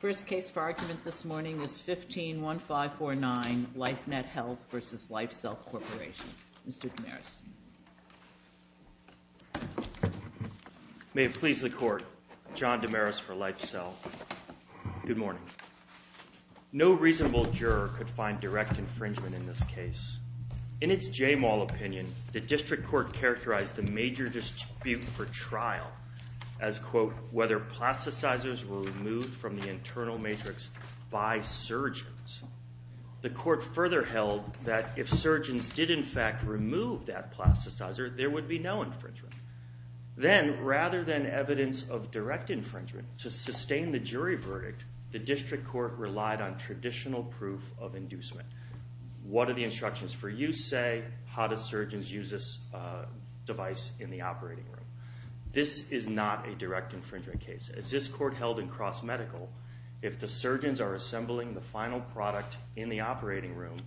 First case for argument this morning is 15-1549 LifeNet Health v. LifeCell Corporation. Mr. Damaris. May it please the Court, John Damaris for LifeCell. Good morning. No reasonable juror could find direct infringement in this case. In its Jaymall opinion, the District Court characterized the major dispute for trial as, quote, whether plasticizers were removed from the internal matrix by surgeons. The Court further held that if surgeons did in fact remove that plasticizer, there would be no infringement. Then, rather than evidence of direct infringement, to sustain the jury verdict, the District Court relied on traditional proof of inducement. What do the instructions for use say? How do surgeons use this device in the operating room? This is not a direct infringement case. As this Court held in cross-medical, if the surgeons are assembling the final product in the operating room,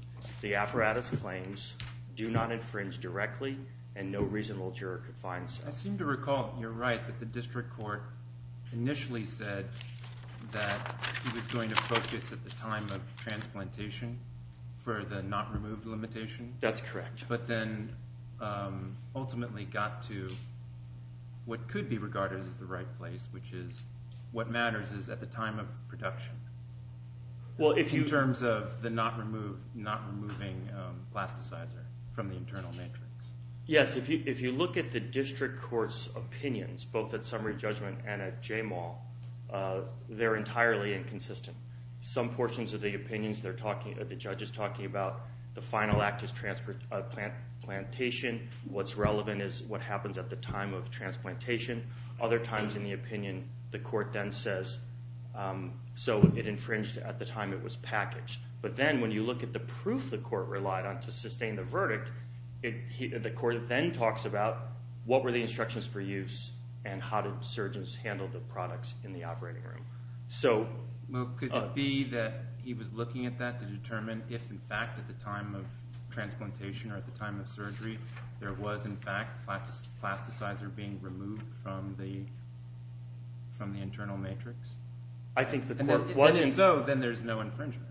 the apparatus claims do not infringe directly, and no reasonable juror could find so. I seem to recall, you're right, that the District Court initially said that it was going to focus at the time of transplantation for the not-removed limitation. That's correct. But then ultimately got to what could be regarded as the right place, which is what matters is at the time of production in terms of the not-removing plasticizer from the internal matrix. Yes, if you look at the District Court's opinions, both at summary judgment and at JMAW, they're entirely inconsistent. Some portions of the opinions, the judge is talking about the final act is transplantation. What's relevant is what happens at the time of transplantation. Other times in the opinion, the Court then says, so it infringed at the time it was packaged. But then when you look at the proof the Court relied on to sustain the verdict, the Court then talks about what were the instructions for use and how did surgeons handle the products in the operating room. Could it be that he was looking at that to determine if, in fact, at the time of transplantation or at the time of surgery, there was, in fact, plasticizer being removed from the internal matrix? If so, then there's no infringement.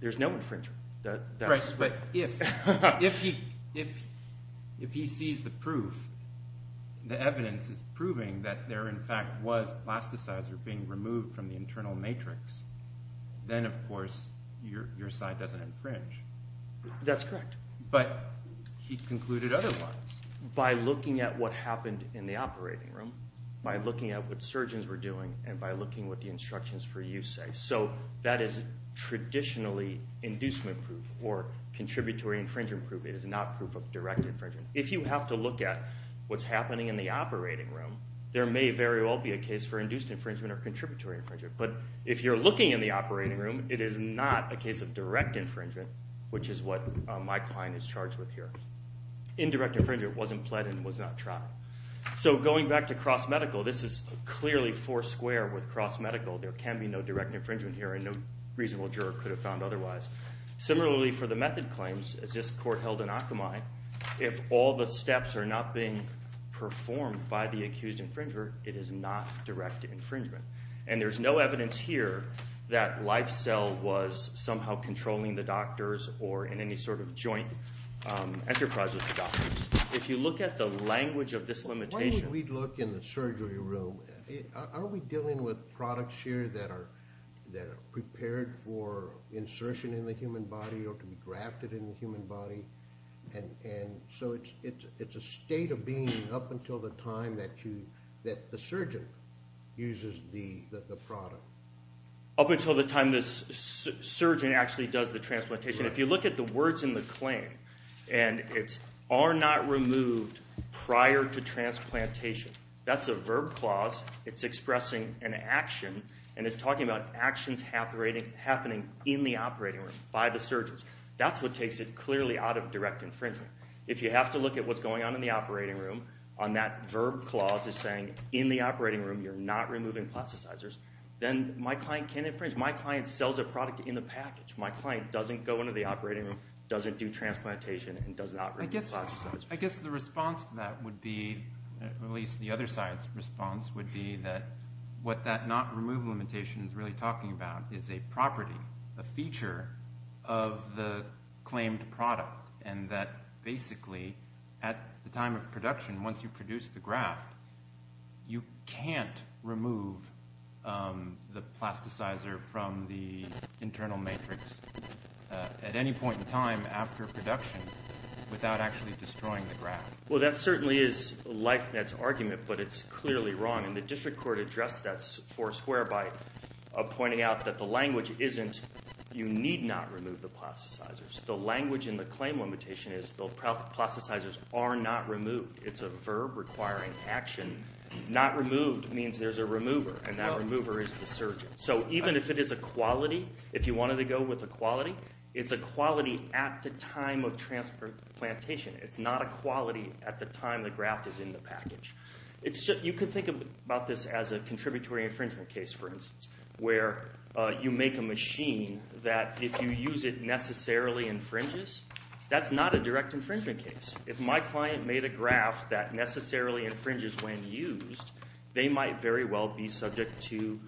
There's no infringement. Right, but if he sees the proof, the evidence is proving that there, in fact, was plasticizer being removed from the internal matrix, then of course your side doesn't infringe. That's correct. But he concluded otherwise. By looking at what happened in the operating room, by looking at what surgeons were doing, and by looking at what the instructions for use say. So that is traditionally inducement proof or contributory infringement proof. It is not proof of direct infringement. If you have to look at what's happening in the operating room, there may very well be a case for induced infringement or contributory infringement. But if you're looking in the operating room, it is not a case of direct infringement, which is what my client is charged with here. Indirect infringement wasn't pled and was not tried. So going back to cross-medical, this is clearly four square with cross-medical. There can be no direct infringement here, and no reasonable juror could have found otherwise. Similarly, for the method claims, as this court held in Akamai, if all the steps are not being performed by the accused infringer, it is not direct infringement. And there's no evidence here that LifeCell was somehow controlling the doctors or in any sort of joint enterprise with the doctors. If you look at the language of this limitation… Why would we look in the surgery room? Are we dealing with products here that are prepared for insertion in the human body or to be grafted in the human body? And so it's a state of being up until the time that the surgeon uses the product. Up until the time the surgeon actually does the transplantation. If you look at the words in the claim, and it's are not removed prior to transplantation, that's a verb clause. It's expressing an action, and it's talking about actions happening in the operating room by the surgeons. That's what takes it clearly out of direct infringement. If you have to look at what's going on in the operating room on that verb clause as saying in the operating room you're not removing plasticizers, then my client can infringe. My client sells a product in the package. My client doesn't go into the operating room, doesn't do transplantation, and does not remove plasticizers. I guess the response to that would be, at least the other side's response, would be that what that not remove limitation is really talking about is a property, a feature of the claimed product. And that basically at the time of production, once you produce the graft, you can't remove the plasticizer from the internal matrix at any point in time after production without actually destroying the graft. Well, that certainly is Leifnitz's argument, but it's clearly wrong. And the district court addressed that for square by pointing out that the language isn't you need not remove the plasticizers. The language in the claim limitation is the plasticizers are not removed. It's a verb requiring action. Not removed means there's a remover, and that remover is the surgeon. So even if it is a quality, if you wanted to go with a quality, it's a quality at the time of transplantation. It's not a quality at the time the graft is in the package. You can think about this as a contributory infringement case, for instance, where you make a machine that if you use it necessarily infringes, that's not a direct infringement case. If my client made a graft that necessarily infringes when used, they might very well be subject to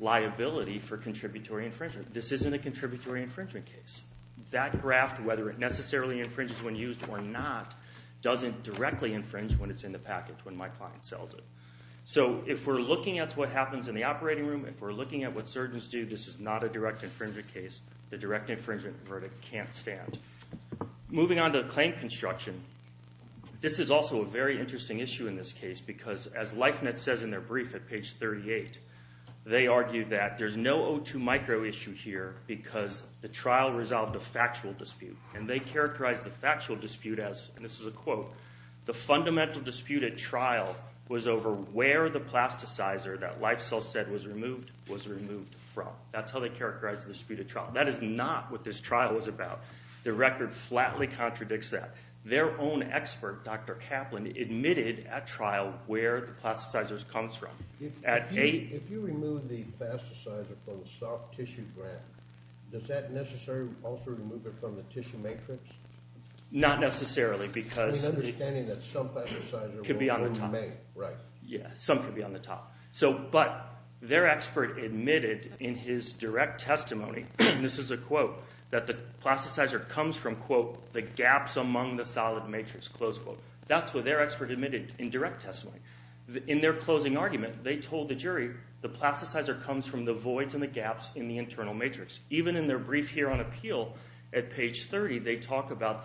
liability for contributory infringement. This isn't a contributory infringement case. That graft, whether it necessarily infringes when used or not, doesn't directly infringe when it's in the package when my client sells it. So if we're looking at what happens in the operating room, if we're looking at what surgeons do, this is not a direct infringement case. The direct infringement verdict can't stand. Moving on to the claim construction, this is also a very interesting issue in this case because as Leifnitz says in their brief at page 38, they argued that there's no O2 micro issue here because the trial resolved a factual dispute. And they characterized the factual dispute as, and this is a quote, the fundamental dispute at trial was over where the plasticizer that Leifnitz said was removed was removed from. That's how they characterized the dispute at trial. That is not what this trial was about. The record flatly contradicts that. Their own expert, Dr. Kaplan, admitted at trial where the plasticizer comes from. If you remove the plasticizer from the soft tissue grant, does that necessarily also remove it from the tissue matrix? Not necessarily because it could be on the top. Yeah, some could be on the top. But their expert admitted in his direct testimony, and this is a quote, that the plasticizer comes from, quote, the gaps among the solid matrix, close quote. That's what their expert admitted in direct testimony. In their closing argument, they told the jury the plasticizer comes from the voids and the gaps in the internal matrix. Even in their brief here on appeal at page 30, they talk about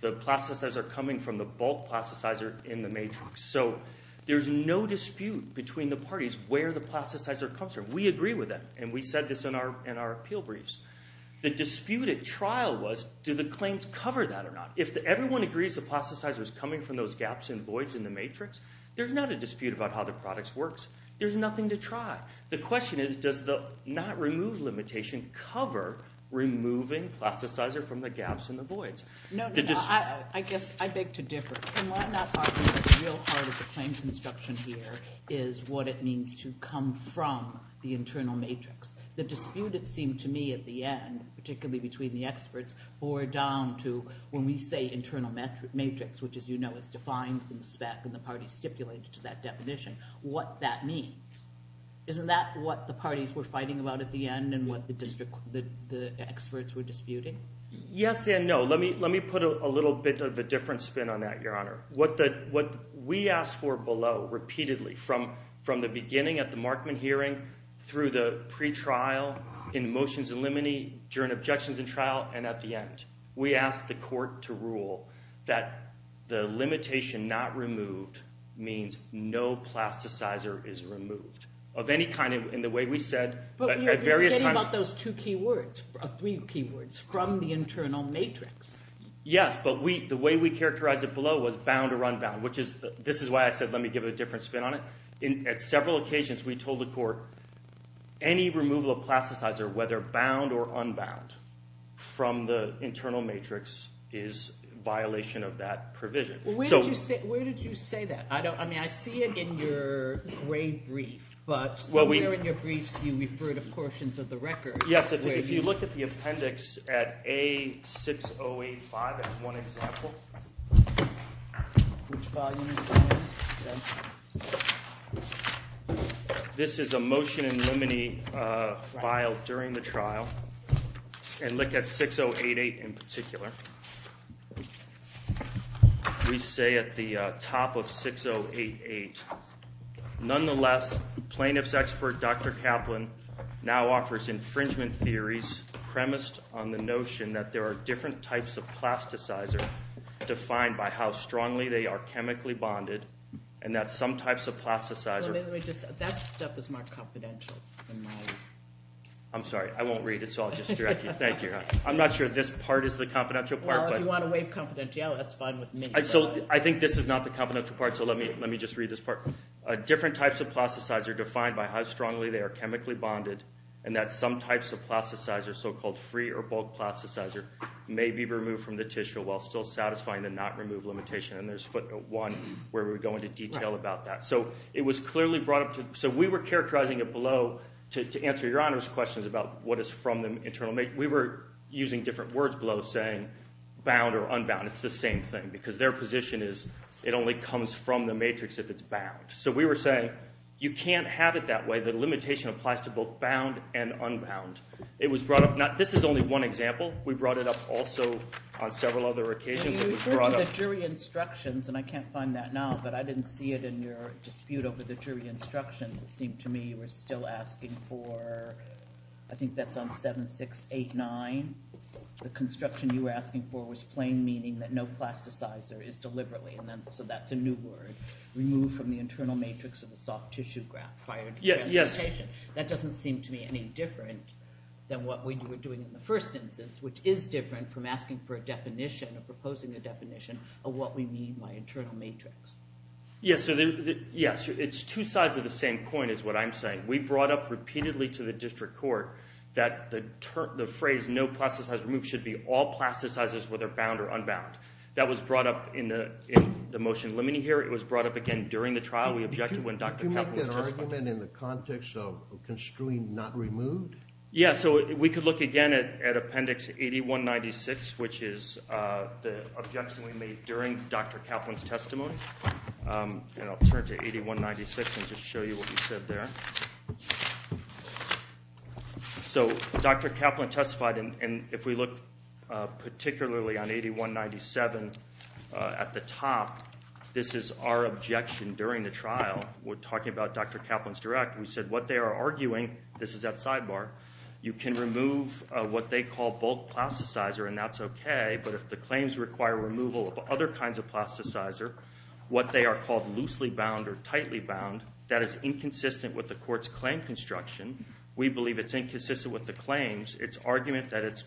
the plasticizer coming from the bulk plasticizer in the matrix. So there's no dispute between the parties where the plasticizer comes from. We agree with that, and we said this in our appeal briefs. The dispute at trial was, do the claims cover that or not? If everyone agrees the plasticizer is coming from those gaps and voids in the matrix, there's not a dispute about how the product works. There's nothing to try. The question is, does the not remove limitation cover removing plasticizer from the gaps and the voids? No, no, no. I guess I beg to differ. And what I'm not arguing is the real heart of the claim construction here is what it means to come from the internal matrix. The dispute, it seemed to me, at the end, particularly between the experts, bore down to when we say internal matrix, which, as you know, is defined in the spec and the parties stipulated to that definition, what that means. Isn't that what the parties were fighting about at the end and what the experts were disputing? Yes and no. Let me put a little bit of a different spin on that, Your Honor. What we asked for below repeatedly from the beginning at the Markman hearing through the pretrial in motions in limine during objections in trial and at the end, we asked the court to rule that the limitation not removed means no plasticizer is removed of any kind in the way we said at various times. But you're getting about those two key words, three key words, from the internal matrix. Yes, but the way we characterized it below was bound or unbound, which is this is why I said let me give it a different spin on it. At several occasions, we told the court any removal of plasticizer, whether bound or unbound, from the internal matrix is violation of that provision. Where did you say that? I mean, I see it in your grade brief, but somewhere in your briefs you refer to portions of the record. Yes, if you look at the appendix at A6085, that's one example. This is a motion in limine filed during the trial and look at 6088 in particular. We say at the top of 6088, nonetheless, plaintiff's expert, Dr. Kaplan, now offers infringement theories premised on the notion that there are different types of plasticizer defined by how strongly they are chemically bonded and that some types of plasticizer. That stuff is more confidential than mine. I'm sorry, I won't read it, so I'll just direct you. Thank you. I'm not sure this part is the confidential part. Well, if you want to waive confidentiality, that's fine with me. I think this is not the confidential part, so let me just read this part. Different types of plasticizer defined by how strongly they are chemically bonded and that some types of plasticizer, so-called free or bulk plasticizer, may be removed from the tissue while still satisfying the not-removed limitation. And there's footnote one where we go into detail about that. So it was clearly brought up to – so we were characterizing it below to answer your Honor's questions about what is from the internal – we were using different words below saying bound or unbound. It's the same thing because their position is it only comes from the matrix if it's bound. So we were saying you can't have it that way. The limitation applies to both bound and unbound. It was brought up – this is only one example. We brought it up also on several other occasions. You referred to the jury instructions, and I can't find that now, but I didn't see it in your dispute over the jury instructions. It seemed to me you were still asking for – I think that's on 7689. The construction you were asking for was plain, meaning that no plasticizer is deliberately – so that's a new word – removed from the internal matrix of the soft-tissue graph. Yes. That doesn't seem to me any different than what we were doing in the first instance, which is different from asking for a definition or proposing a definition of what we mean by internal matrix. Yes, it's two sides of the same coin is what I'm saying. We brought up repeatedly to the district court that the phrase no plasticizer removed should be all plasticizers whether bound or unbound. That was brought up in the motion limiting here. It was brought up again during the trial. Could you make that argument in the context of construing not removed? Yeah, so we could look again at Appendix 8196, which is the objection we made during Dr. Kaplan's testimony, and I'll turn to 8196 and just show you what he said there. So Dr. Kaplan testified, and if we look particularly on 8197 at the top, this is our objection during the trial. We're talking about Dr. Kaplan's direct. We said what they are arguing – this is that sidebar – you can remove what they call bulk plasticizer, and that's okay, but if the claims require removal of other kinds of plasticizer, what they are called loosely bound or tightly bound, that is inconsistent with the court's claim construction. We believe it's inconsistent with the claims. It's argument that it's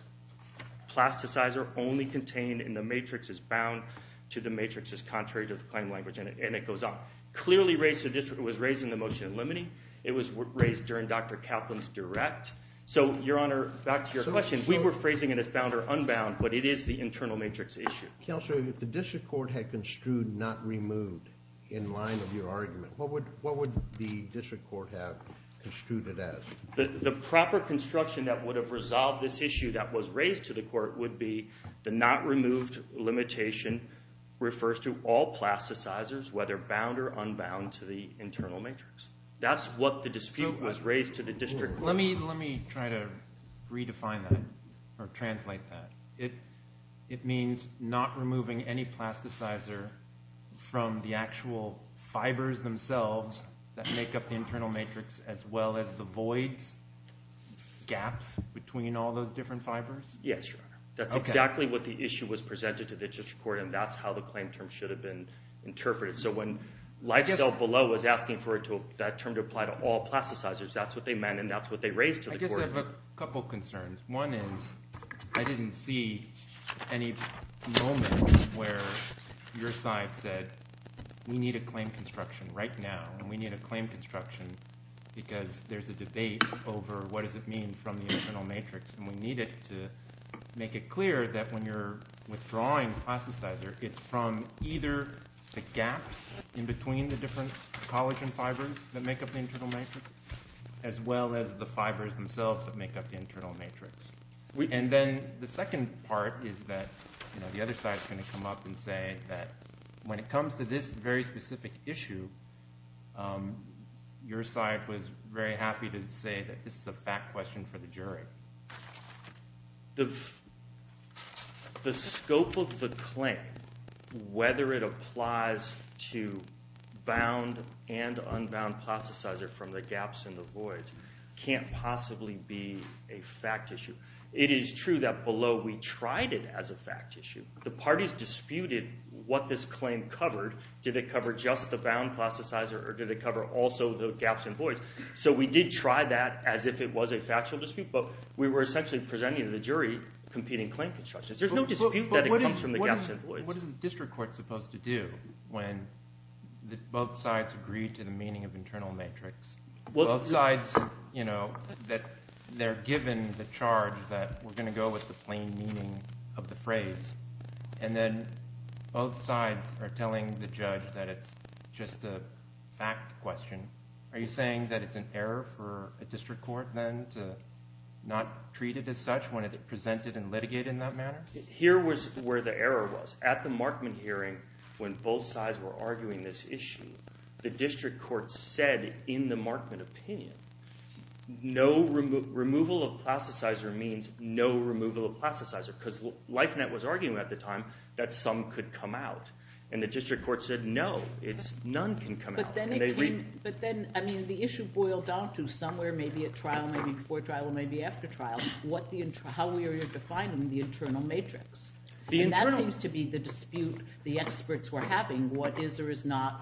plasticizer only contained in the matrix is bound to the matrix that's contrary to the claim language, and it goes on. Clearly, it was raised in the motion limiting. It was raised during Dr. Kaplan's direct. So, Your Honor, back to your question. We were phrasing it as bound or unbound, but it is the internal matrix issue. Counselor, if the district court had construed not removed in line with your argument, what would the district court have construed it as? The proper construction that would have resolved this issue that was raised to the court would be the not removed limitation refers to all plasticizers, whether bound or unbound, to the internal matrix. That's what the dispute was raised to the district court. Let me try to redefine that or translate that. It means not removing any plasticizer from the actual fibers themselves that make up the internal matrix as well as the voids, gaps between all those different fibers? Yes, Your Honor. That's exactly what the issue was presented to the district court, and that's how the claim term should have been interpreted. So when LifeCellBelow was asking for that term to apply to all plasticizers, that's what they meant, and that's what they raised to the court. I guess I have a couple concerns. One is I didn't see any moment where your side said we need a claim construction right now, and we need a claim construction because there's a debate over what does it mean from the internal matrix. And we need it to make it clear that when you're withdrawing plasticizer, it's from either the gaps in between the different collagen fibers that make up the internal matrix as well as the fibers themselves that make up the internal matrix. And then the second part is that the other side is going to come up and say that when it comes to this very specific issue, your side was very happy to say that this is a fact question for the jury. The scope of the claim, whether it applies to bound and unbound plasticizer from the gaps and the voids, can't possibly be a fact issue. It is true that below we tried it as a fact issue. The parties disputed what this claim covered. Did it cover just the bound plasticizer, or did it cover also the gaps and voids? So we did try that as if it was a factual dispute, but we were essentially presenting to the jury competing claim constructions. There's no dispute that it comes from the gaps and voids. What is the district court supposed to do when both sides agree to the meaning of internal matrix? Both sides that they're given the charge that we're going to go with the plain meaning of the phrase, and then both sides are telling the judge that it's just a fact question. Are you saying that it's an error for a district court then to not treat it as such when it's presented and litigated in that manner? Here was where the error was. At the Markman hearing, when both sides were arguing this issue, the district court said in the Markman opinion, no removal of plasticizer means no removal of plasticizer because LifeNet was arguing at the time that some could come out. And the district court said, no, none can come out. But then the issue boiled down to somewhere, maybe at trial, maybe before trial, maybe after trial, how we were defining the internal matrix. And that seems to be the dispute the experts were having, what is or is not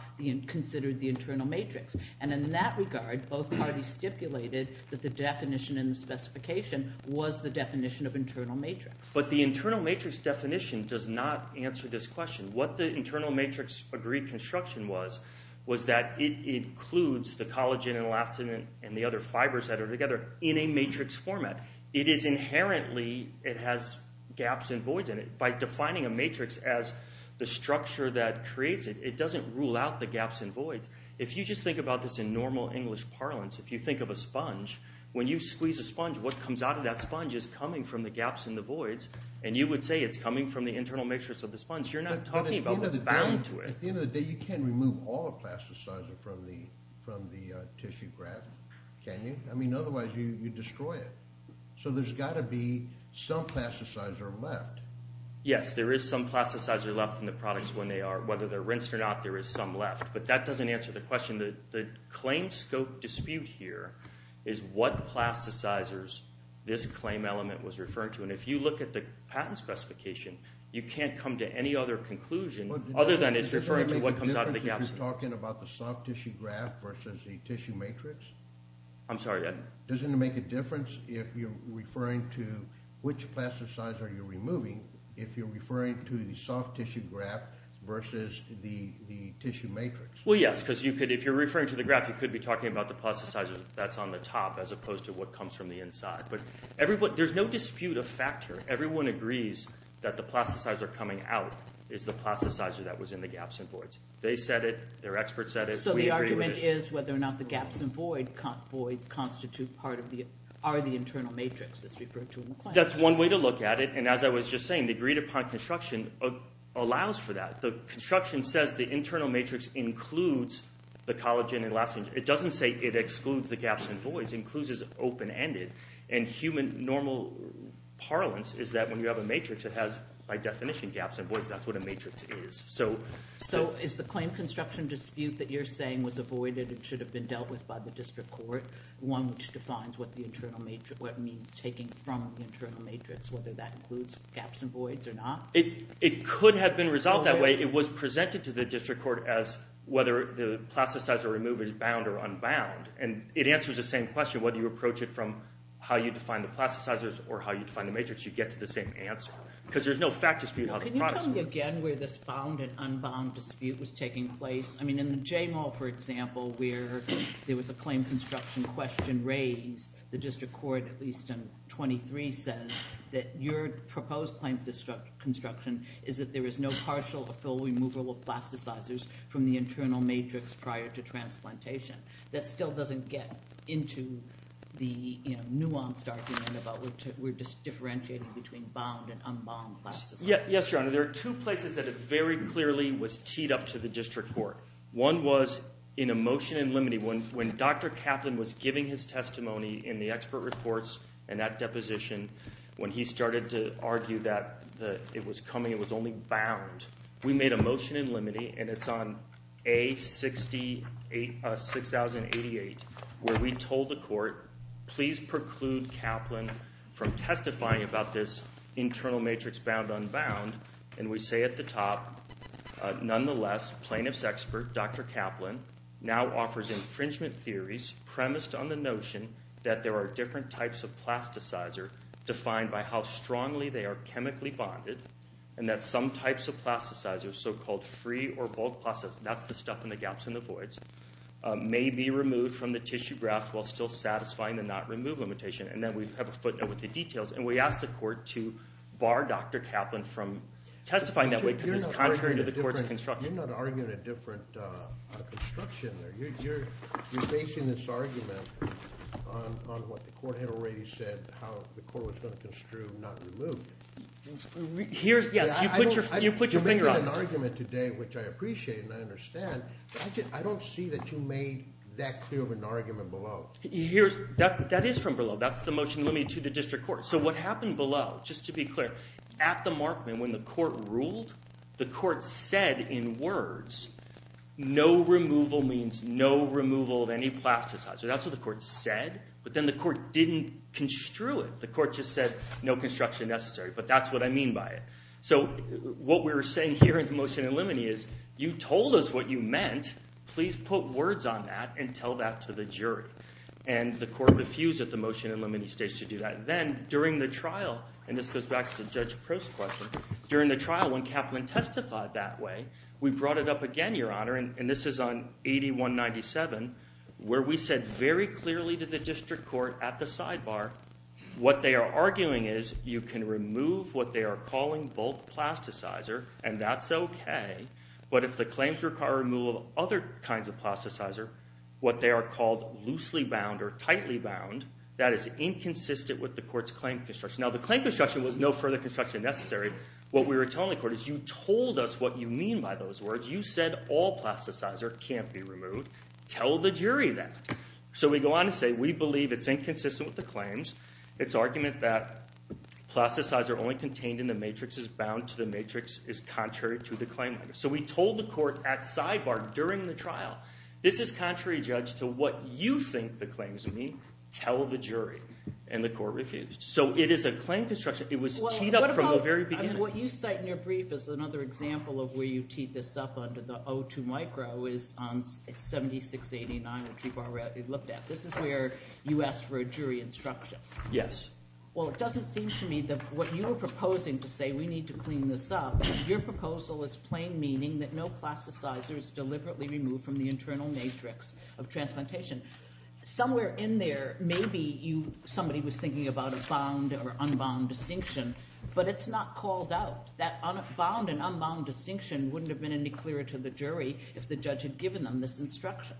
considered the internal matrix. And in that regard, both parties stipulated that the definition in the specification was the definition of internal matrix. But the internal matrix definition does not answer this question. What the internal matrix agreed construction was, was that it includes the collagen and elastin and the other fibers that are together in a matrix format. It is inherently, it has gaps and voids in it. By defining a matrix as the structure that creates it, it doesn't rule out the gaps and voids. If you just think about this in normal English parlance, if you think of a sponge, when you squeeze a sponge, what comes out of that sponge is coming from the gaps and the voids. And you would say it's coming from the internal matrix of the sponge. You're not talking about what's bound to it. At the end of the day, you can't remove all the plasticizer from the tissue graph, can you? I mean, otherwise you destroy it. So there's got to be some plasticizer left. Yes, there is some plasticizer left in the products when they are, whether they're rinsed or not, there is some left. But that doesn't answer the question. The claim scope dispute here is what plasticizers this claim element was referring to. And if you look at the patent specification, you can't come to any other conclusion other than it's referring to what comes out of the gaps. Does it make a difference if you're talking about the soft tissue graph versus the tissue matrix? I'm sorry? Doesn't it make a difference if you're referring to which plasticizer you're removing if you're referring to the soft tissue graph versus the tissue matrix? Well, yes, because if you're referring to the graph, you could be talking about the plasticizer that's on the top as opposed to what comes from the inside. But there's no dispute of factor. Everyone agrees that the plasticizer coming out is the plasticizer that was in the gaps and voids. They said it. Their experts said it. So the argument is whether or not the gaps and voids constitute part of the – are the internal matrix that's referred to in the claim. That's one way to look at it. And as I was just saying, the agreed-upon construction allows for that. The construction says the internal matrix includes the collagen and elastin. It doesn't say it excludes the gaps and voids. It includes as open-ended. And human normal parlance is that when you have a matrix, it has, by definition, gaps and voids. That's what a matrix is. So is the claim construction dispute that you're saying was avoided and should have been dealt with by the district court one which defines what the internal matrix – what it means taking from the internal matrix, whether that includes gaps and voids or not? It could have been resolved that way. But it was presented to the district court as whether the plasticizer removal is bound or unbound. And it answers the same question, whether you approach it from how you define the plasticizers or how you define the matrix, you get to the same answer. Because there's no fact dispute. Can you tell me again where this found and unbound dispute was taking place? I mean in the J-Mall, for example, where there was a claim construction question raised, the district court, at least in 23, says that your proposed claim construction is that there is no partial or full removal of plasticizers from the internal matrix prior to transplantation. That still doesn't get into the nuanced argument about we're just differentiating between bound and unbound plasticizers. Yes, Your Honor. There are two places that it very clearly was teed up to the district court. One was in a motion in limine. When Dr. Kaplan was giving his testimony in the expert reports and that deposition, when he started to argue that it was coming, it was only bound. We made a motion in limine, and it's on A6088, where we told the court, please preclude Kaplan from testifying about this internal matrix bound unbound. And we say at the top, nonetheless, plaintiff's expert, Dr. Kaplan, now offers infringement theories premised on the notion that there are different types of plasticizer defined by how strongly they are chemically bonded. And that some types of plasticizers, so-called free or bulk plasticizers, that's the stuff in the gaps and the voids, may be removed from the tissue graft while still satisfying the not remove limitation. And then we have a footnote with the details. And we asked the court to bar Dr. Kaplan from testifying that way because it's contrary to the court's construction. You're not arguing a different construction there. You're basing this argument on what the court had already said, how the court was going to construe not remove. Yes, you put your finger on it. You're making an argument today, which I appreciate and I understand. I don't see that you made that clear of an argument below. That is from below. That's the motion limited to the district court. So what happened below, just to be clear, at the Markman, when the court ruled, the court said in words, no removal means no removal of any plasticizer. That's what the court said. But then the court didn't construe it. The court just said, no construction necessary. But that's what I mean by it. So what we were saying here in the motion in limine is you told us what you meant. Please put words on that and tell that to the jury. And the court refused at the motion in limine stage to do that. Then during the trial, and this goes back to the judge post question during the trial, when Kaplan testified that way, we brought it up again, Your Honor. And this is on 8197, where we said very clearly to the district court at the sidebar, what they are arguing is you can remove what they are calling bulk plasticizer, and that's OK. But if the claims require removal of other kinds of plasticizer, what they are called loosely bound or tightly bound, that is inconsistent with the court's claim construction. Now, the claim construction was no further construction necessary. What we were telling the court is you told us what you mean by those words. You said all plasticizer can't be removed. Tell the jury that. So we go on to say we believe it's inconsistent with the claims. It's argument that plasticizer only contained in the matrix is bound to the matrix is contrary to the claim. So we told the court at sidebar during the trial, this is contrary, Judge, to what you think the claims mean. Tell the jury. And the court refused. So it is a claim construction. It was teed up from the very beginning. And what you cite in your brief is another example of where you teed this up under the O2 micro is on 7689, which we've already looked at. This is where you asked for a jury instruction. Yes. Well, it doesn't seem to me that what you are proposing to say we need to clean this up, your proposal is plain meaning that no plasticizer is deliberately removed from the internal matrix of transplantation. Somewhere in there, maybe somebody was thinking about a bound or unbound distinction. But it's not called out. That bound and unbound distinction wouldn't have been any clearer to the jury if the judge had given them this instruction.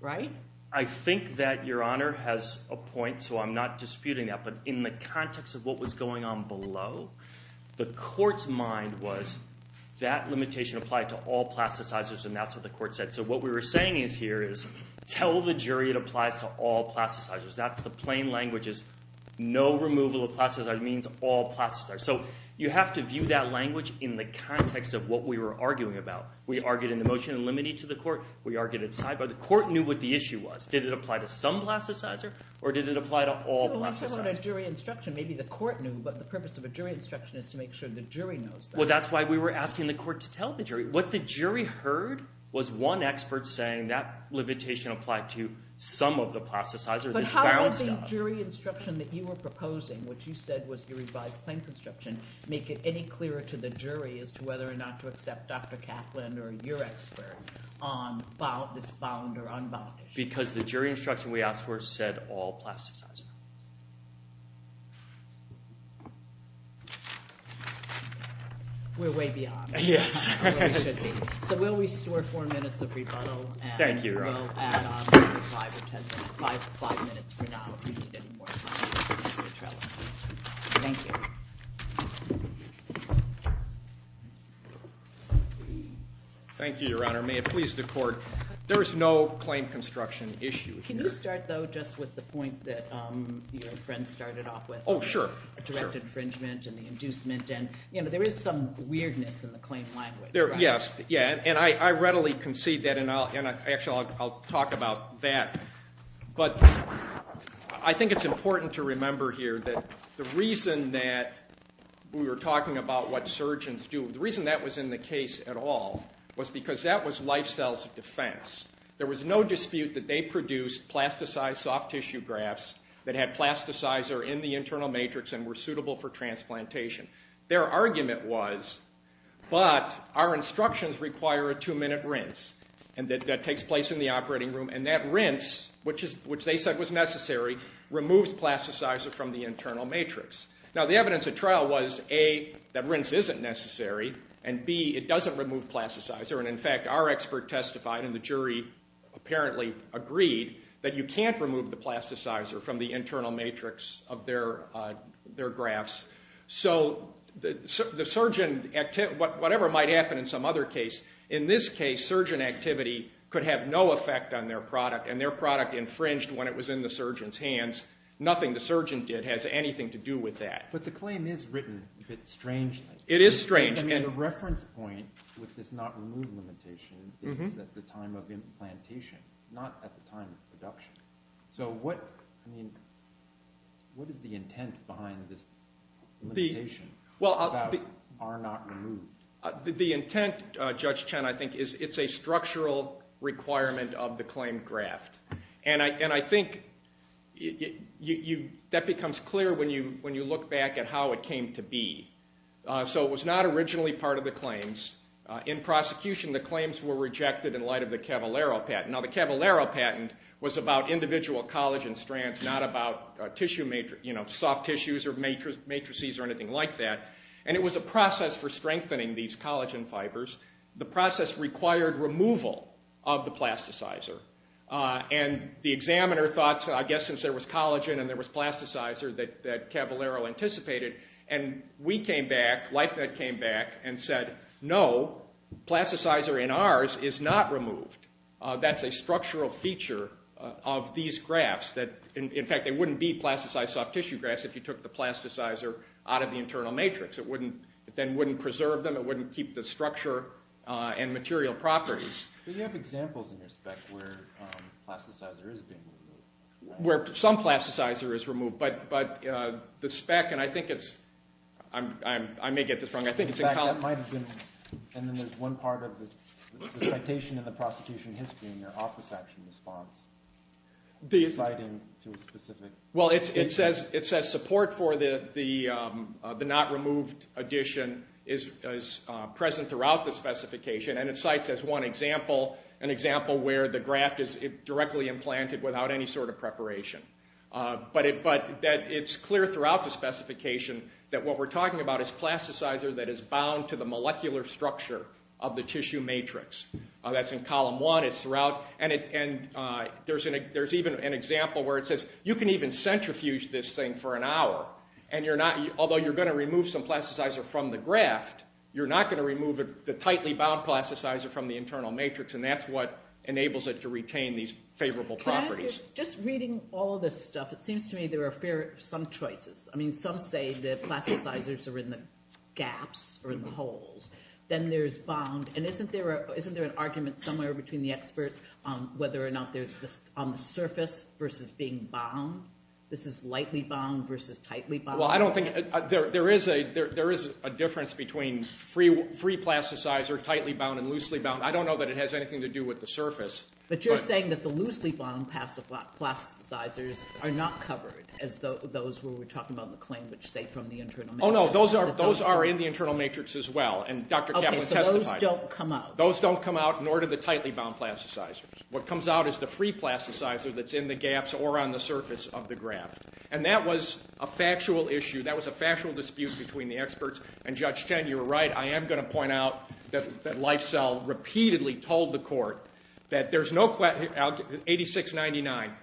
Right? I think that your honor has a point, so I'm not disputing that. But in the context of what was going on below, the court's mind was that limitation applied to all plasticizers, and that's what the court said. So what we were saying is here is tell the jury it applies to all plasticizers. That's the plain language is no removal of plasticizers means all plasticizers. So you have to view that language in the context of what we were arguing about. We argued in the motion in limited to the court. We argued at sidebar. The court knew what the issue was. Did it apply to some plasticizer or did it apply to all plasticizers? Well, you said about a jury instruction. Maybe the court knew, but the purpose of a jury instruction is to make sure the jury knows that. Well, that's why we were asking the court to tell the jury. What the jury heard was one expert saying that limitation applied to some of the plasticizers. But how would the jury instruction that you were proposing, which you said was the revised plain construction, make it any clearer to the jury as to whether or not to accept Dr. Kaplan or your expert on this bound or unbound issue? Because the jury instruction we asked for said all plasticizers. We're way beyond. Yes. We should be. So we'll restore four minutes of rebuttal. Thank you, Your Honor. And we'll add on five or ten minutes. Five minutes for now if we need any more time. Thank you. Thank you, Your Honor. May it please the court. There is no claim construction issue here. Can you start, though, just with the point that your friend started off with? Oh, sure. Direct infringement and the inducement. You know, there is some weirdness in the claim language. Yes, and I readily concede that, and actually I'll talk about that. But I think it's important to remember here that the reason that we were talking about what surgeons do, the reason that was in the case at all was because that was life cells of defense. There was no dispute that they produced plasticized soft tissue grafts that had plasticizer in the internal matrix and were suitable for transplantation. Their argument was, but our instructions require a two-minute rinse that takes place in the operating room, and that rinse, which they said was necessary, removes plasticizer from the internal matrix. Now, the evidence at trial was, A, that rinse isn't necessary, and, B, it doesn't remove plasticizer. And, in fact, our expert testified, and the jury apparently agreed, that you can't remove the plasticizer from the internal matrix of their grafts. So the surgeon, whatever might happen in some other case, in this case, surgeon activity could have no effect on their product, and their product infringed when it was in the surgeon's hands. Nothing the surgeon did has anything to do with that. But the claim is written a bit strangely. It is strange. The reference point with this not-removed limitation is at the time of implantation, not at the time of production. So what is the intent behind this limitation about our not-removed? The intent, Judge Chen, I think, is it's a structural requirement of the claimed graft. And I think that becomes clear when you look back at how it came to be. So it was not originally part of the claims. In prosecution, the claims were rejected in light of the Cavallaro patent. Now the Cavallaro patent was about individual collagen strands, not about soft tissues or matrices or anything like that. And it was a process for strengthening these collagen fibers. The process required removal of the plasticizer. And the examiner thought, I guess since there was collagen and there was plasticizer, that Cavallaro anticipated. And we came back, LifeNet came back, and said, no, plasticizer in ours is not removed. That's a structural feature of these grafts. In fact, they wouldn't be plasticized soft tissue grafts if you took the plasticizer out of the internal matrix. It then wouldn't preserve them. It wouldn't keep the structure and material properties. Do you have examples in your spec where plasticizer is being removed? Where some plasticizer is removed. But the spec, and I think it's, I may get this wrong, I think it's in college. In fact, that might have been, and then there's one part of the citation in the prosecution history in their office action response, citing to a specific. Well, it says support for the not removed addition is present throughout the specification. And it cites as one example an example where the graft is directly implanted without any sort of preparation. But it's clear throughout the specification that what we're talking about is plasticizer that is bound to the molecular structure of the tissue matrix. That's in column one. And there's even an example where it says you can even centrifuge this thing for an hour, and although you're going to remove some plasticizer from the graft, you're not going to remove the tightly bound plasticizer from the internal matrix, and that's what enables it to retain these favorable properties. Just reading all of this stuff, it seems to me there are some choices. I mean, some say the plasticizers are in the gaps or in the holes. Then there's bound, and isn't there an argument somewhere between the experts whether or not they're on the surface versus being bound? This is lightly bound versus tightly bound. Well, I don't think there is a difference between free plasticizer, tightly bound, and loosely bound. But you're saying that the loosely bound plasticizers are not covered, as those where we're talking about the claim which say from the internal matrix. Oh, no, those are in the internal matrix as well, and Dr. Kaplan testified on that. Okay, so those don't come out. Those don't come out, nor do the tightly bound plasticizers. What comes out is the free plasticizer that's in the gaps or on the surface of the graft. And that was a factual issue. That was a factual dispute between the experts and Judge Chen. You're right. I am going to point out that Lysell repeatedly told the court that there's no question, 8699,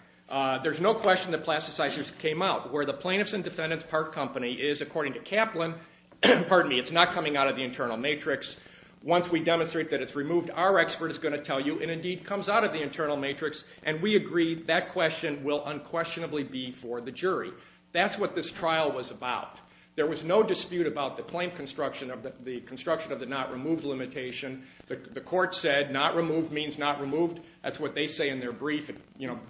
there's no question that plasticizers came out. Where the Plaintiffs and Defendants Park Company is, according to Kaplan, pardon me, it's not coming out of the internal matrix. Once we demonstrate that it's removed, our expert is going to tell you it indeed comes out of the internal matrix, and we agree that question will unquestionably be for the jury. That's what this trial was about. There was no dispute about the claim construction of the not removed limitation. The court said not removed means not removed. That's what they say in their brief.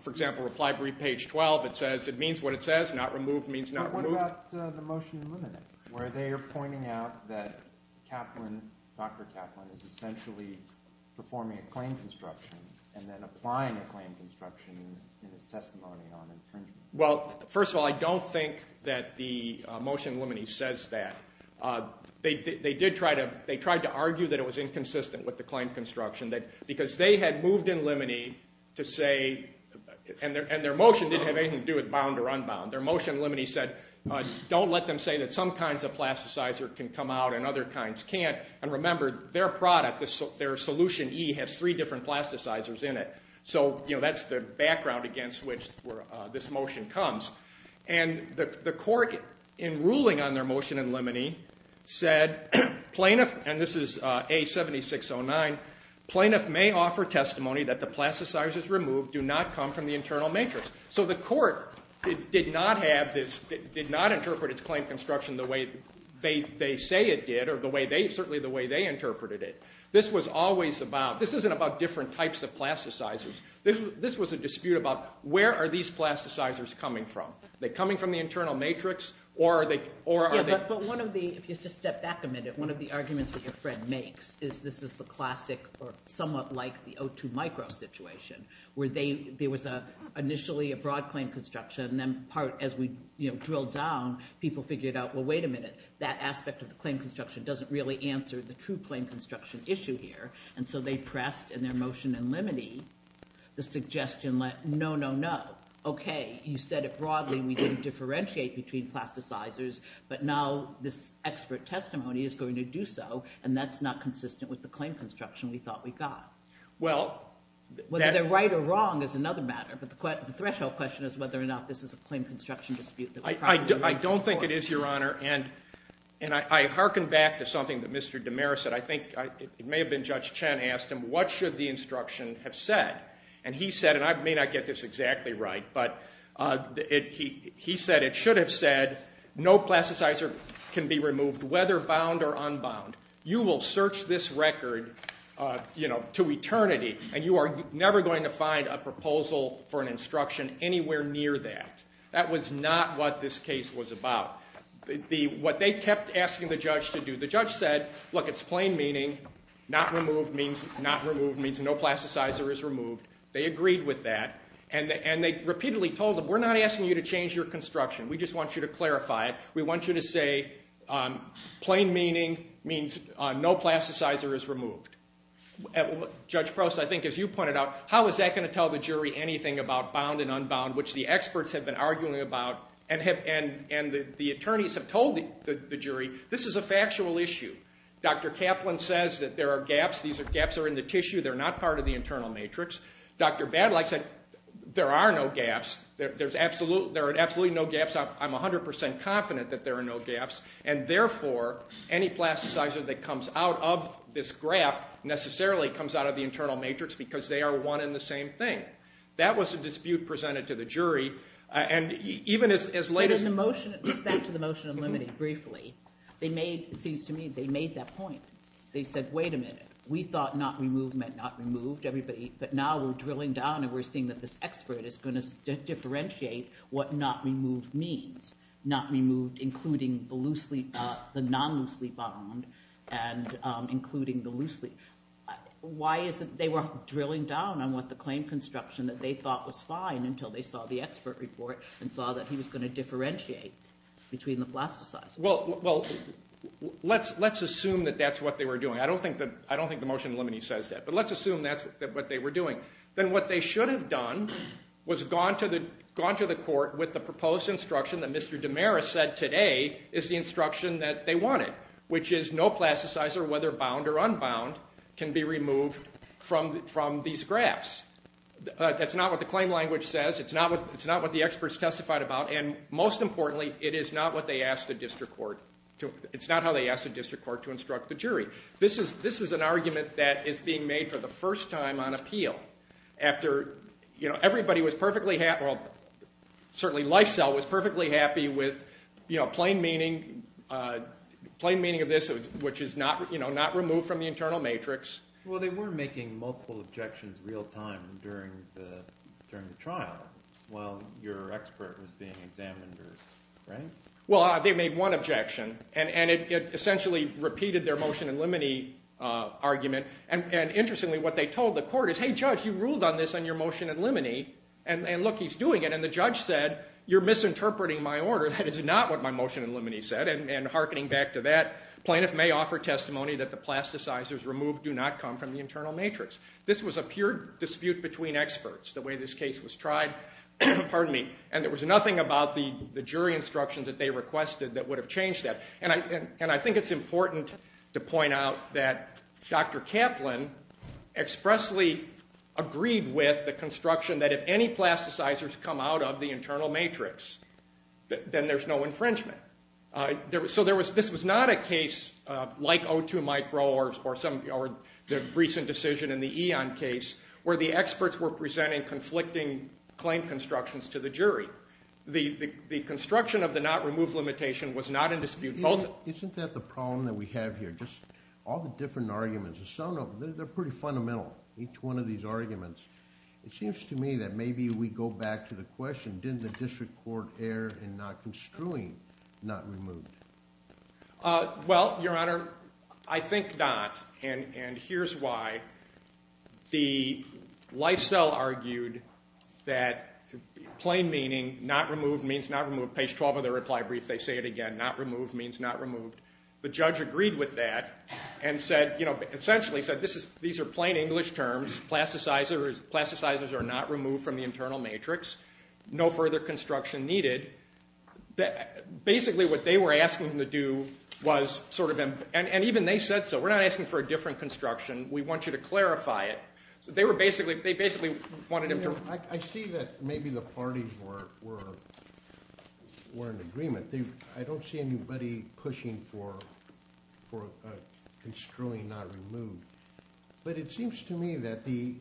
For example, reply brief page 12, it says it means what it says, not removed means not removed. What about the motion eliminated where they are pointing out that Kaplan, Dr. Kaplan, is essentially performing a claim construction and then applying a claim construction in his testimony on infringement? Well, first of all, I don't think that the motion eliminated says that. They did try to argue that it was inconsistent with the claim construction because they had moved in limine to say, and their motion didn't have anything to do with bound or unbound. Their motion eliminated said don't let them say that some kinds of plasticizer can come out and other kinds can't, and remember their product, their solution E, has three different plasticizers in it. So that's the background against which this motion comes. And the court in ruling on their motion in limine said plaintiff, and this is A7609, plaintiff may offer testimony that the plasticizers removed do not come from the internal matrix. So the court did not interpret its claim construction the way they say it did or certainly the way they interpreted it. This was always about, this isn't about different types of plasticizers. This was a dispute about where are these plasticizers coming from? Are they coming from the internal matrix or are they? Yeah, but one of the, if you just step back a minute, one of the arguments that your friend makes is this is the classic or somewhat like the O2 micro situation where there was initially a broad claim construction and then part, as we drilled down, people figured out, well, wait a minute, that aspect of the claim construction doesn't really answer the true claim construction issue here. And so they pressed in their motion in limine the suggestion, no, no, no. Okay, you said it broadly. We didn't differentiate between plasticizers, but now this expert testimony is going to do so and that's not consistent with the claim construction we thought we got. Whether they're right or wrong is another matter, but the threshold question is whether or not this is a claim construction dispute. I don't think it is, Your Honor, and I hearken back to something that Mr. DeMera said. I think it may have been Judge Chen asked him what should the instruction have said, and he said, and I may not get this exactly right, but he said it should have said no plasticizer can be removed whether bound or unbound. You will search this record, you know, to eternity, and you are never going to find a proposal for an instruction anywhere near that. That was not what this case was about. What they kept asking the judge to do, the judge said, look, it's plain meaning, not removed means no plasticizer is removed. They agreed with that, and they repeatedly told them, we're not asking you to change your construction. We just want you to clarify it. We want you to say plain meaning means no plasticizer is removed. Judge Prost, I think as you pointed out, how is that going to tell the jury anything about bound and unbound, which the experts have been arguing about, and the attorneys have told the jury this is a factual issue. Dr. Kaplan says that there are gaps. These gaps are in the tissue. They're not part of the internal matrix. Dr. Badlock said there are no gaps. There are absolutely no gaps. I'm 100% confident that there are no gaps, and therefore any plasticizer that comes out of this graph necessarily comes out of the internal matrix because they are one and the same thing. That was a dispute presented to the jury, and even as late as the motion. Just back to the motion of limiting briefly. It seems to me they made that point. They said, wait a minute. We thought not removed meant not removed, everybody, but now we're drilling down and we're seeing that this expert is going to differentiate what not removed means, not removed including the non-loosely bound and including the loosely. Why is it they were drilling down on what the claim construction that they thought was fine until they saw the expert report and saw that he was going to differentiate between the plasticizers? Well, let's assume that that's what they were doing. I don't think the motion of limiting says that, but let's assume that's what they were doing. Then what they should have done was gone to the court with the proposed instruction that Mr. DiMera said today is the instruction that they wanted, which is no plasticizer, whether bound or unbound, can be removed from these graphs. That's not what the claim language says. It's not what the experts testified about, and most importantly, it is not how they asked the district court to instruct the jury. This is an argument that is being made for the first time on appeal. After everybody was perfectly happy, certainly Lysell was perfectly happy with plain meaning of this, which is not removed from the internal matrix. Well, they were making multiple objections real time during the trial while your expert was being examined, right? Well, they made one objection, and it essentially repeated their motion in limine argument. Interestingly, what they told the court is, hey, judge, you ruled on this in your motion in limine, and look, he's doing it. The judge said, you're misinterpreting my order. That is not what my motion in limine said, and hearkening back to that, plaintiff may offer testimony that the plasticizers removed do not come from the internal matrix. This was a pure dispute between experts, the way this case was tried, and there was nothing about the jury instructions that they requested that would have changed that. I think it's important to point out that Dr. Kaplan expressly agreed with the construction that if any plasticizers come out of the internal matrix, then there's no infringement. So this was not a case like O2 micro or the recent decision in the Eon case where the experts were presenting conflicting claim constructions to the jury. The construction of the not removed limitation was not in dispute. Isn't that the problem that we have here? All the different arguments, some of them, they're pretty fundamental, each one of these arguments. It seems to me that maybe we go back to the question, didn't the district court err in not construing not removed? Well, Your Honor, I think not, and here's why. The life cell argued that plain meaning, not removed means not removed. Page 12 of the reply brief, they say it again. Not removed means not removed. The judge agreed with that and said, you know, essentially said these are plain English terms. Plasticizers are not removed from the internal matrix. No further construction needed. Basically what they were asking them to do was sort of them, and even they said so. We're not asking for a different construction. We want you to clarify it. So they basically wanted them to. I see that maybe the parties were in agreement. I don't see anybody pushing for construing not removed. But it seems to me that the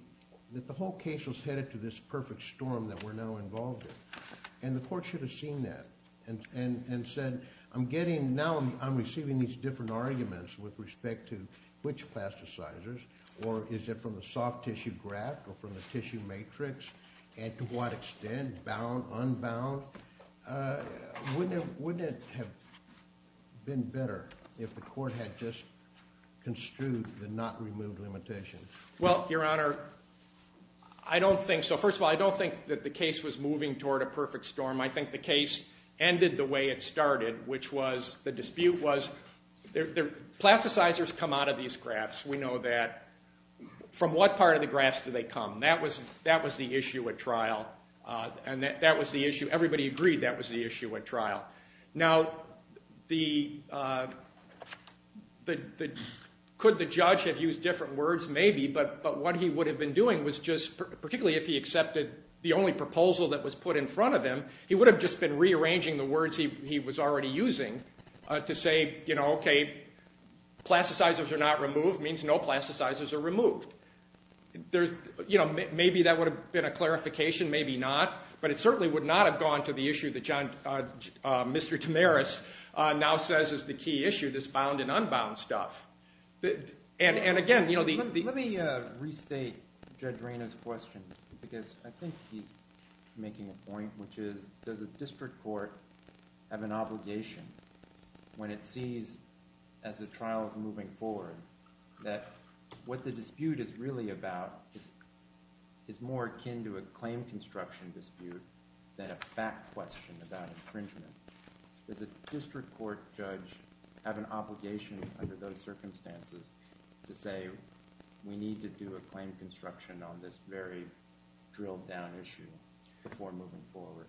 whole case was headed to this perfect storm that we're now involved in, and the court should have seen that and said I'm getting, now I'm receiving these different arguments with respect to which plasticizers, or is it from the soft tissue graft or from the tissue matrix, and to what extent, bound, unbound. Wouldn't it have been better if the court had just construed the not removed limitation? Well, Your Honor, I don't think so. First of all, I don't think that the case was moving toward a perfect storm. I think the case ended the way it started, which was the dispute was plasticizers come out of these grafts. We know that. From what part of the grafts do they come? That was the issue at trial, and that was the issue. Everybody agreed that was the issue at trial. Now, could the judge have used different words? Maybe, but what he would have been doing was just, particularly if he accepted the only proposal that was put in front of him, he would have just been rearranging the words he was already using to say, you know, okay, plasticizers are not removed means no plasticizers are removed. Maybe that would have been a clarification, maybe not, but it certainly would not have gone to the issue that Mr. Tamaris now says is the key issue, this bound and unbound stuff. And, again, you know the – Let me restate Judge Reina's question because I think he's making a point, which is does a district court have an obligation when it sees, as the trial is moving forward, that what the dispute is really about is more akin to a claim construction dispute than a fact question about infringement. Does a district court judge have an obligation under those circumstances to say we need to do a claim construction on this very drilled down issue before moving forward?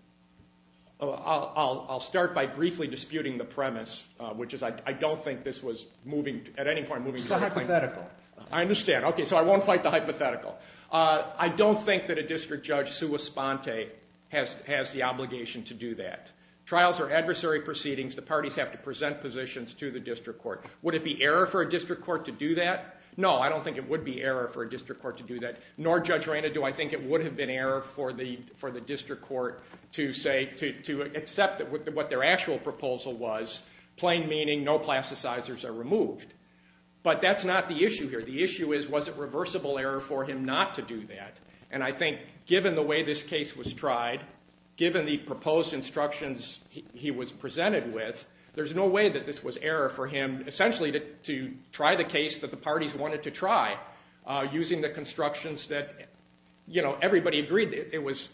I'll start by briefly disputing the premise, which is I don't think this was moving, at any point, moving to a claim. It's a hypothetical. I understand. Okay, so I won't fight the hypothetical. I don't think that a district judge sua sponte has the obligation to do that. Trials are adversary proceedings. The parties have to present positions to the district court. Would it be error for a district court to do that? No, I don't think it would be error for a district court to do that, nor, Judge Reina, do I think it would have been error for the district court to accept what their actual proposal was, plain meaning no plasticizers are removed. But that's not the issue here. The issue is was it reversible error for him not to do that, and I think given the way this case was tried, given the proposed instructions he was presented with, there's no way that this was error for him essentially to try the case that the parties wanted to try using the constructions that everybody agreed it was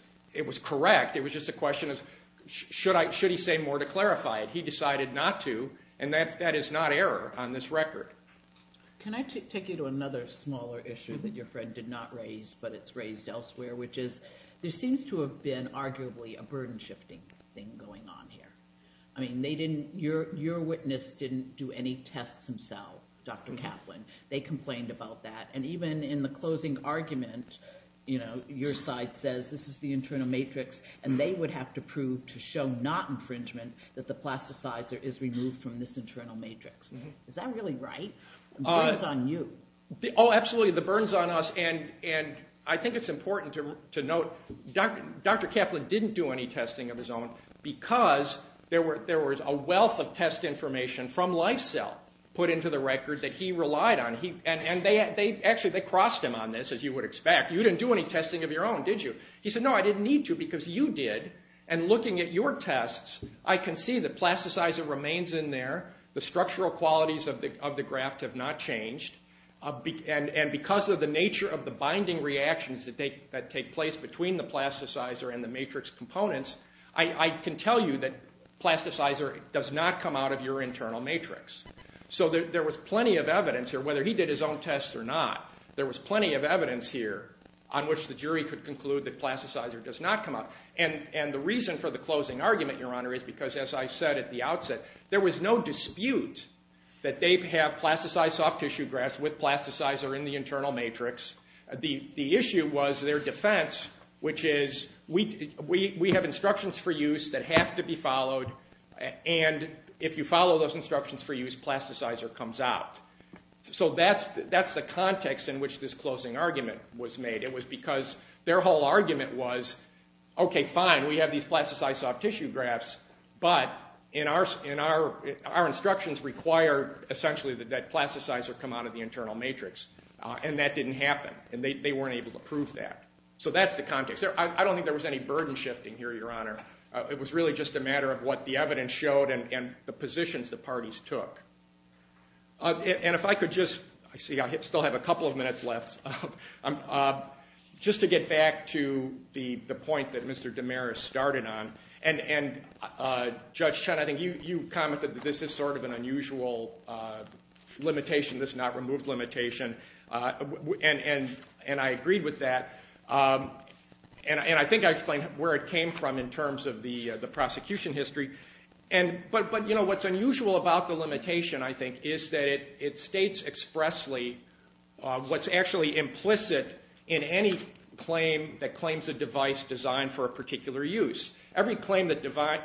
correct. It was just a question of should he say more to clarify it. He decided not to, and that is not error on this record. Can I take you to another smaller issue that your friend did not raise but it's raised elsewhere, which is there seems to have been arguably a burden-shifting thing going on here. Your witness didn't do any tests himself, Dr. Kaplan. They complained about that, and even in the closing argument, your side says this is the internal matrix, and they would have to prove to show not infringement that the plasticizer is removed from this internal matrix. Is that really right? The burden's on you. Oh, absolutely, the burden's on us, and I think it's important to note Dr. Kaplan didn't do any testing of his own because there was a wealth of test information from LifeCell put into the record that he relied on, and actually they crossed him on this, as you would expect. You didn't do any testing of your own, did you? He said, no, I didn't need to because you did, and looking at your tests, I can see the plasticizer remains in there. The structural qualities of the graft have not changed, and because of the nature of the binding reactions that take place between the plasticizer and the matrix components, I can tell you that plasticizer does not come out of your internal matrix. So there was plenty of evidence here, whether he did his own tests or not, there was plenty of evidence here on which the jury could conclude that plasticizer does not come out. And the reason for the closing argument, Your Honor, is because, as I said at the outset, there was no dispute that they have plasticized soft tissue grafts with plasticizer in the internal matrix. The issue was their defense, which is, we have instructions for use that have to be followed, and if you follow those instructions for use, plasticizer comes out. So that's the context in which this closing argument was made. It was because their whole argument was, okay, fine, we have these plasticized soft tissue grafts, but our instructions require, essentially, that plasticizer come out of the internal matrix, and that didn't happen, and they weren't able to prove that. So that's the context. I don't think there was any burden shifting here, Your Honor. It was really just a matter of what the evidence showed and the positions the parties took. And if I could just, I see I still have a couple of minutes left, just to get back to the point that Mr. Damaris started on, and Judge Chen, I think you commented that this is sort of an unusual limitation, this not-removed limitation, and I agreed with that, and I think I explained where it came from in terms of the prosecution history. But what's unusual about the limitation, I think, is that it states expressly what's actually implicit in any claim that claims a device designed for a particular use. Every claim that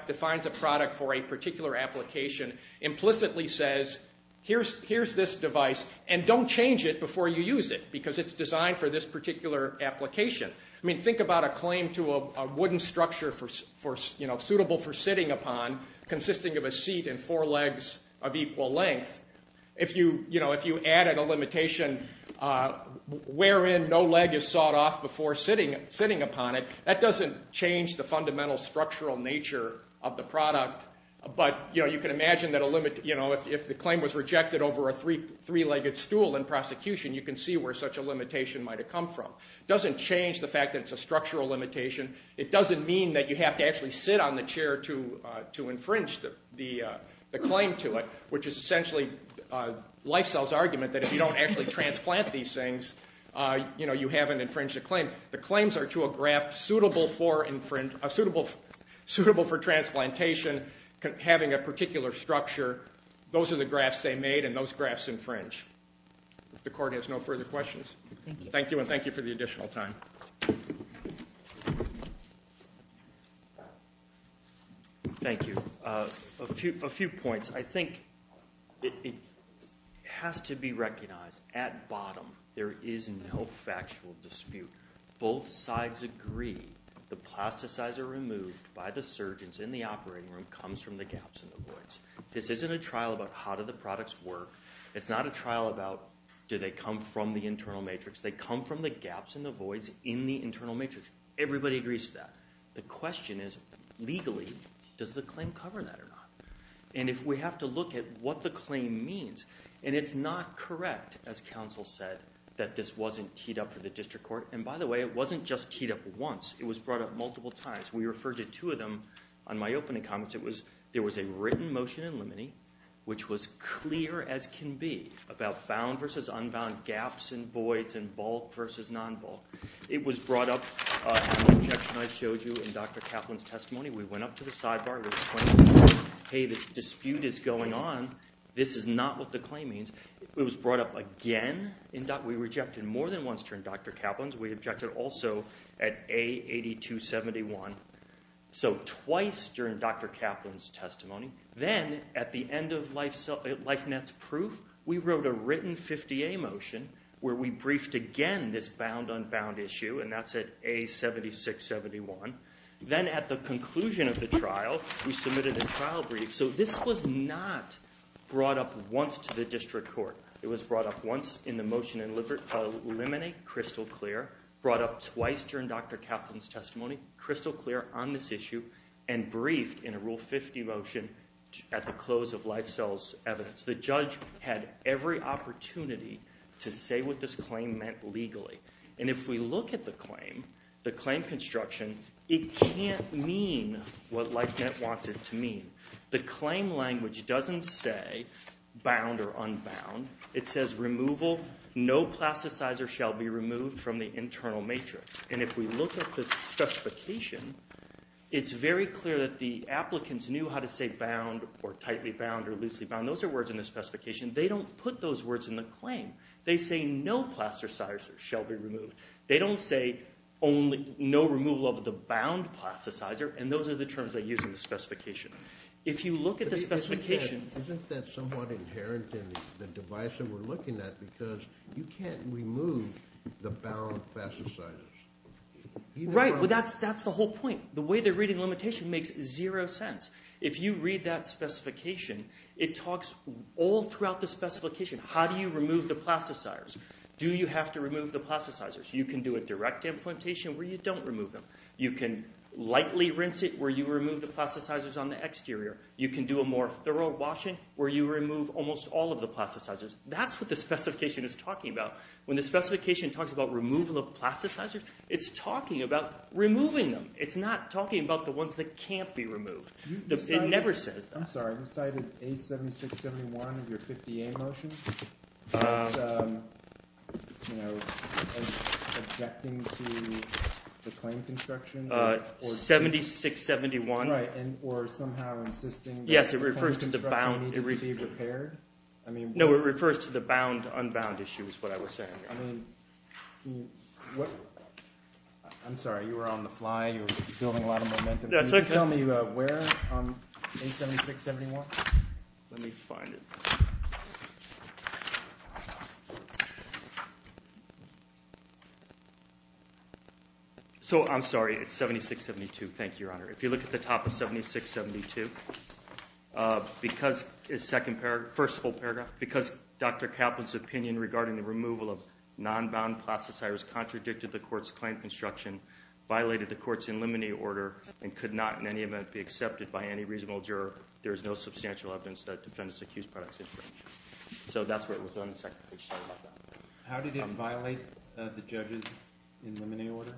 defines a product for a particular application implicitly says, here's this device, and don't change it before you use it, because it's designed for this particular application. I mean, think about a claim to a wooden structure suitable for sitting upon consisting of a seat and four legs of equal length. If you added a limitation wherein no leg is sawed off before sitting upon it, that doesn't change the fundamental structural nature of the product, but you can imagine that if the claim was rejected over a three-legged stool in prosecution, you can see where such a limitation might have come from. It doesn't change the fact that it's a structural limitation. It doesn't mean that you have to actually sit on the chair to infringe the claim to it, which is essentially LifeCell's argument that if you don't actually transplant these things, you haven't infringed a claim. The claims are to a graft suitable for transplantation, having a particular structure. Those are the grafts they made, and those grafts infringe. The court has no further questions. Thank you, and thank you for the additional time. Thank you. A few points. I think it has to be recognized at bottom there is no factual dispute. Both sides agree the plasticizer removed by the surgeons in the operating room comes from the gaps in the woods. This isn't a trial about how do the products work. It's not a trial about do they come from the internal matrix. They come from the gaps and the voids in the internal matrix. Everybody agrees to that. The question is, legally, does the claim cover that or not? And if we have to look at what the claim means, and it's not correct, as counsel said, that this wasn't teed up for the district court. And by the way, it wasn't just teed up once. It was brought up multiple times. We referred to two of them on my opening comments. There was a written motion in limine, which was clear as can be, about found versus unbound gaps and voids and bulk versus non-bulk. It was brought up in the objection I showed you in Dr. Kaplan's testimony. We went up to the sidebar. We explained, hey, this dispute is going on. This is not what the claim means. It was brought up again. We rejected more than once during Dr. Kaplan's. We objected also at A8271. So twice during Dr. Kaplan's testimony. Then at the end of LifeNet's proof, we wrote a written 50-A motion where we briefed again this bound-unbound issue, and that's at A7671. Then at the conclusion of the trial, we submitted a trial brief. So this was not brought up once to the district court. It was brought up once in the motion in limine, crystal clear. Brought up twice during Dr. Kaplan's testimony, crystal clear. On this issue, and briefed in a Rule 50 motion at the close of LifeCell's evidence. The judge had every opportunity to say what this claim meant legally. And if we look at the claim, the claim construction, it can't mean what LifeNet wants it to mean. The claim language doesn't say bound or unbound. It says removal. No plasticizer shall be removed from the internal matrix. And if we look at the specification, it's very clear that the applicants knew how to say bound or tightly bound or loosely bound. Those are words in the specification. They don't put those words in the claim. They say no plasticizer shall be removed. They don't say no removal of the bound plasticizer, and those are the terms they use in the specification. If you look at the specification... Isn't that somewhat inherent in the device that we're looking at? Because you can't remove the bound plasticizers. Right, but that's the whole point. The way they're reading limitation makes zero sense. If you read that specification, it talks all throughout the specification. How do you remove the plasticizers? Do you have to remove the plasticizers? You can do a direct implantation where you don't remove them. You can lightly rinse it where you remove the plasticizers on the exterior. You can do a more thorough washing where you remove almost all of the plasticizers. That's what the specification is talking about. When the specification talks about removal of plasticizers, it's talking about removing them. It's not talking about the ones that can't be removed. It never says that. I'm sorry. You cited A7671 of your 50A motion as objecting to the claim construction? 7671. Right, or somehow insisting that the claim construction needed to be repaired? No, it refers to the bound-unbound issue is what I was saying. I'm sorry. You were on the fly. You were building a lot of momentum. Can you tell me where on A7671? Let me find it. So I'm sorry. It's 7672. Thank you, Your Honor. If you look at the top of 7672, the first whole paragraph, because Dr. Kaplan's opinion regarding the removal of non-bound plasticizers contradicted the court's claim construction, violated the court's in limine order, and could not in any event be accepted by any reasonable juror, there is no substantial evidence that defendants accused products. So that's where it was on the second page. Sorry about that. How did it violate the judge's in limine order?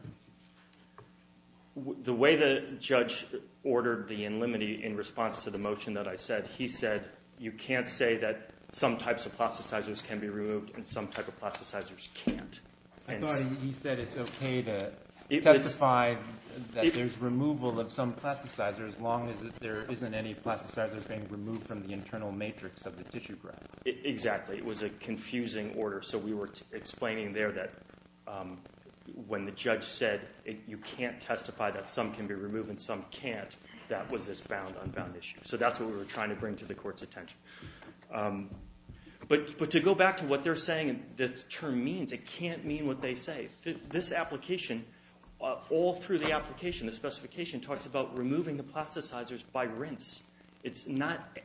The way the judge ordered the in limine in response to the motion that I said, he said you can't say that some types of plasticizers can be removed and some types of plasticizers can't. I thought he said it's okay to testify that there's removal of some plasticizers as long as there isn't any plasticizers being removed from the internal matrix of the tissue graph. Exactly. It was a confusing order. So we were explaining there that when the judge said you can't testify that some can be removed and some can't, that was this bound-unbound issue. So that's what we were trying to bring to the court's attention. But to go back to what they're saying, the term means, it can't mean what they say. This application, all through the application, the specification talks about removing the plasticizers by rinse. It's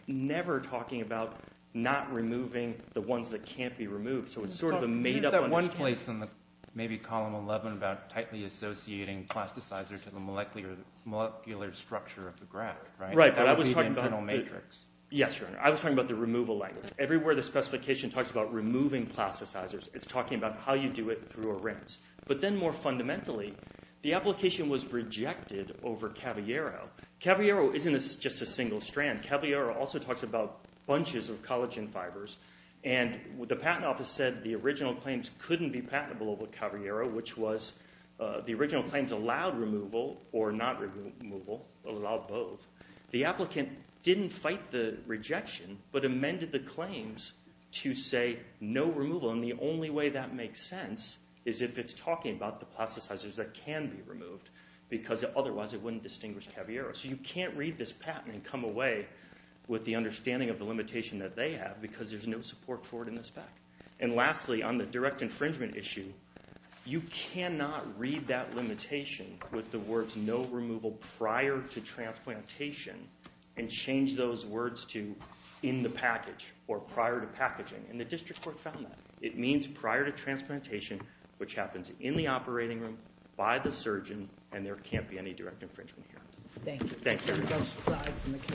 never talking about not removing the ones that can't be removed. So it's sort of a made-up understanding. There's that one place in maybe Column 11 about tightly associating plasticizers to the molecular structure of the graph, right? That would be the internal matrix. Yes, Your Honor. I was talking about the removal language. Everywhere the specification talks about removing plasticizers, it's talking about how you do it through a rinse. But then more fundamentally, the application was rejected over Caviero. Caviero isn't just a single strand. Caviero also talks about bunches of collagen fibers. And the patent office said the original claims couldn't be patentable over Caviero, which was the original claims allowed removal or not removal, allowed both. The applicant didn't fight the rejection, but amended the claims to say no removal. And the only way that makes sense is if it's talking about the plasticizers that can be removed, because otherwise it wouldn't distinguish Caviero. So you can't read this patent and come away with the understanding of the limitation that they have because there's no support for it in the spec. And lastly, on the direct infringement issue, you cannot read that limitation with the words no removal prior to transplantation and change those words to in the package or prior to packaging. And the district court found that. It means prior to transplantation, which happens in the operating room, by the surgeon, and there can't be any direct infringement here. Thank you. Thank you.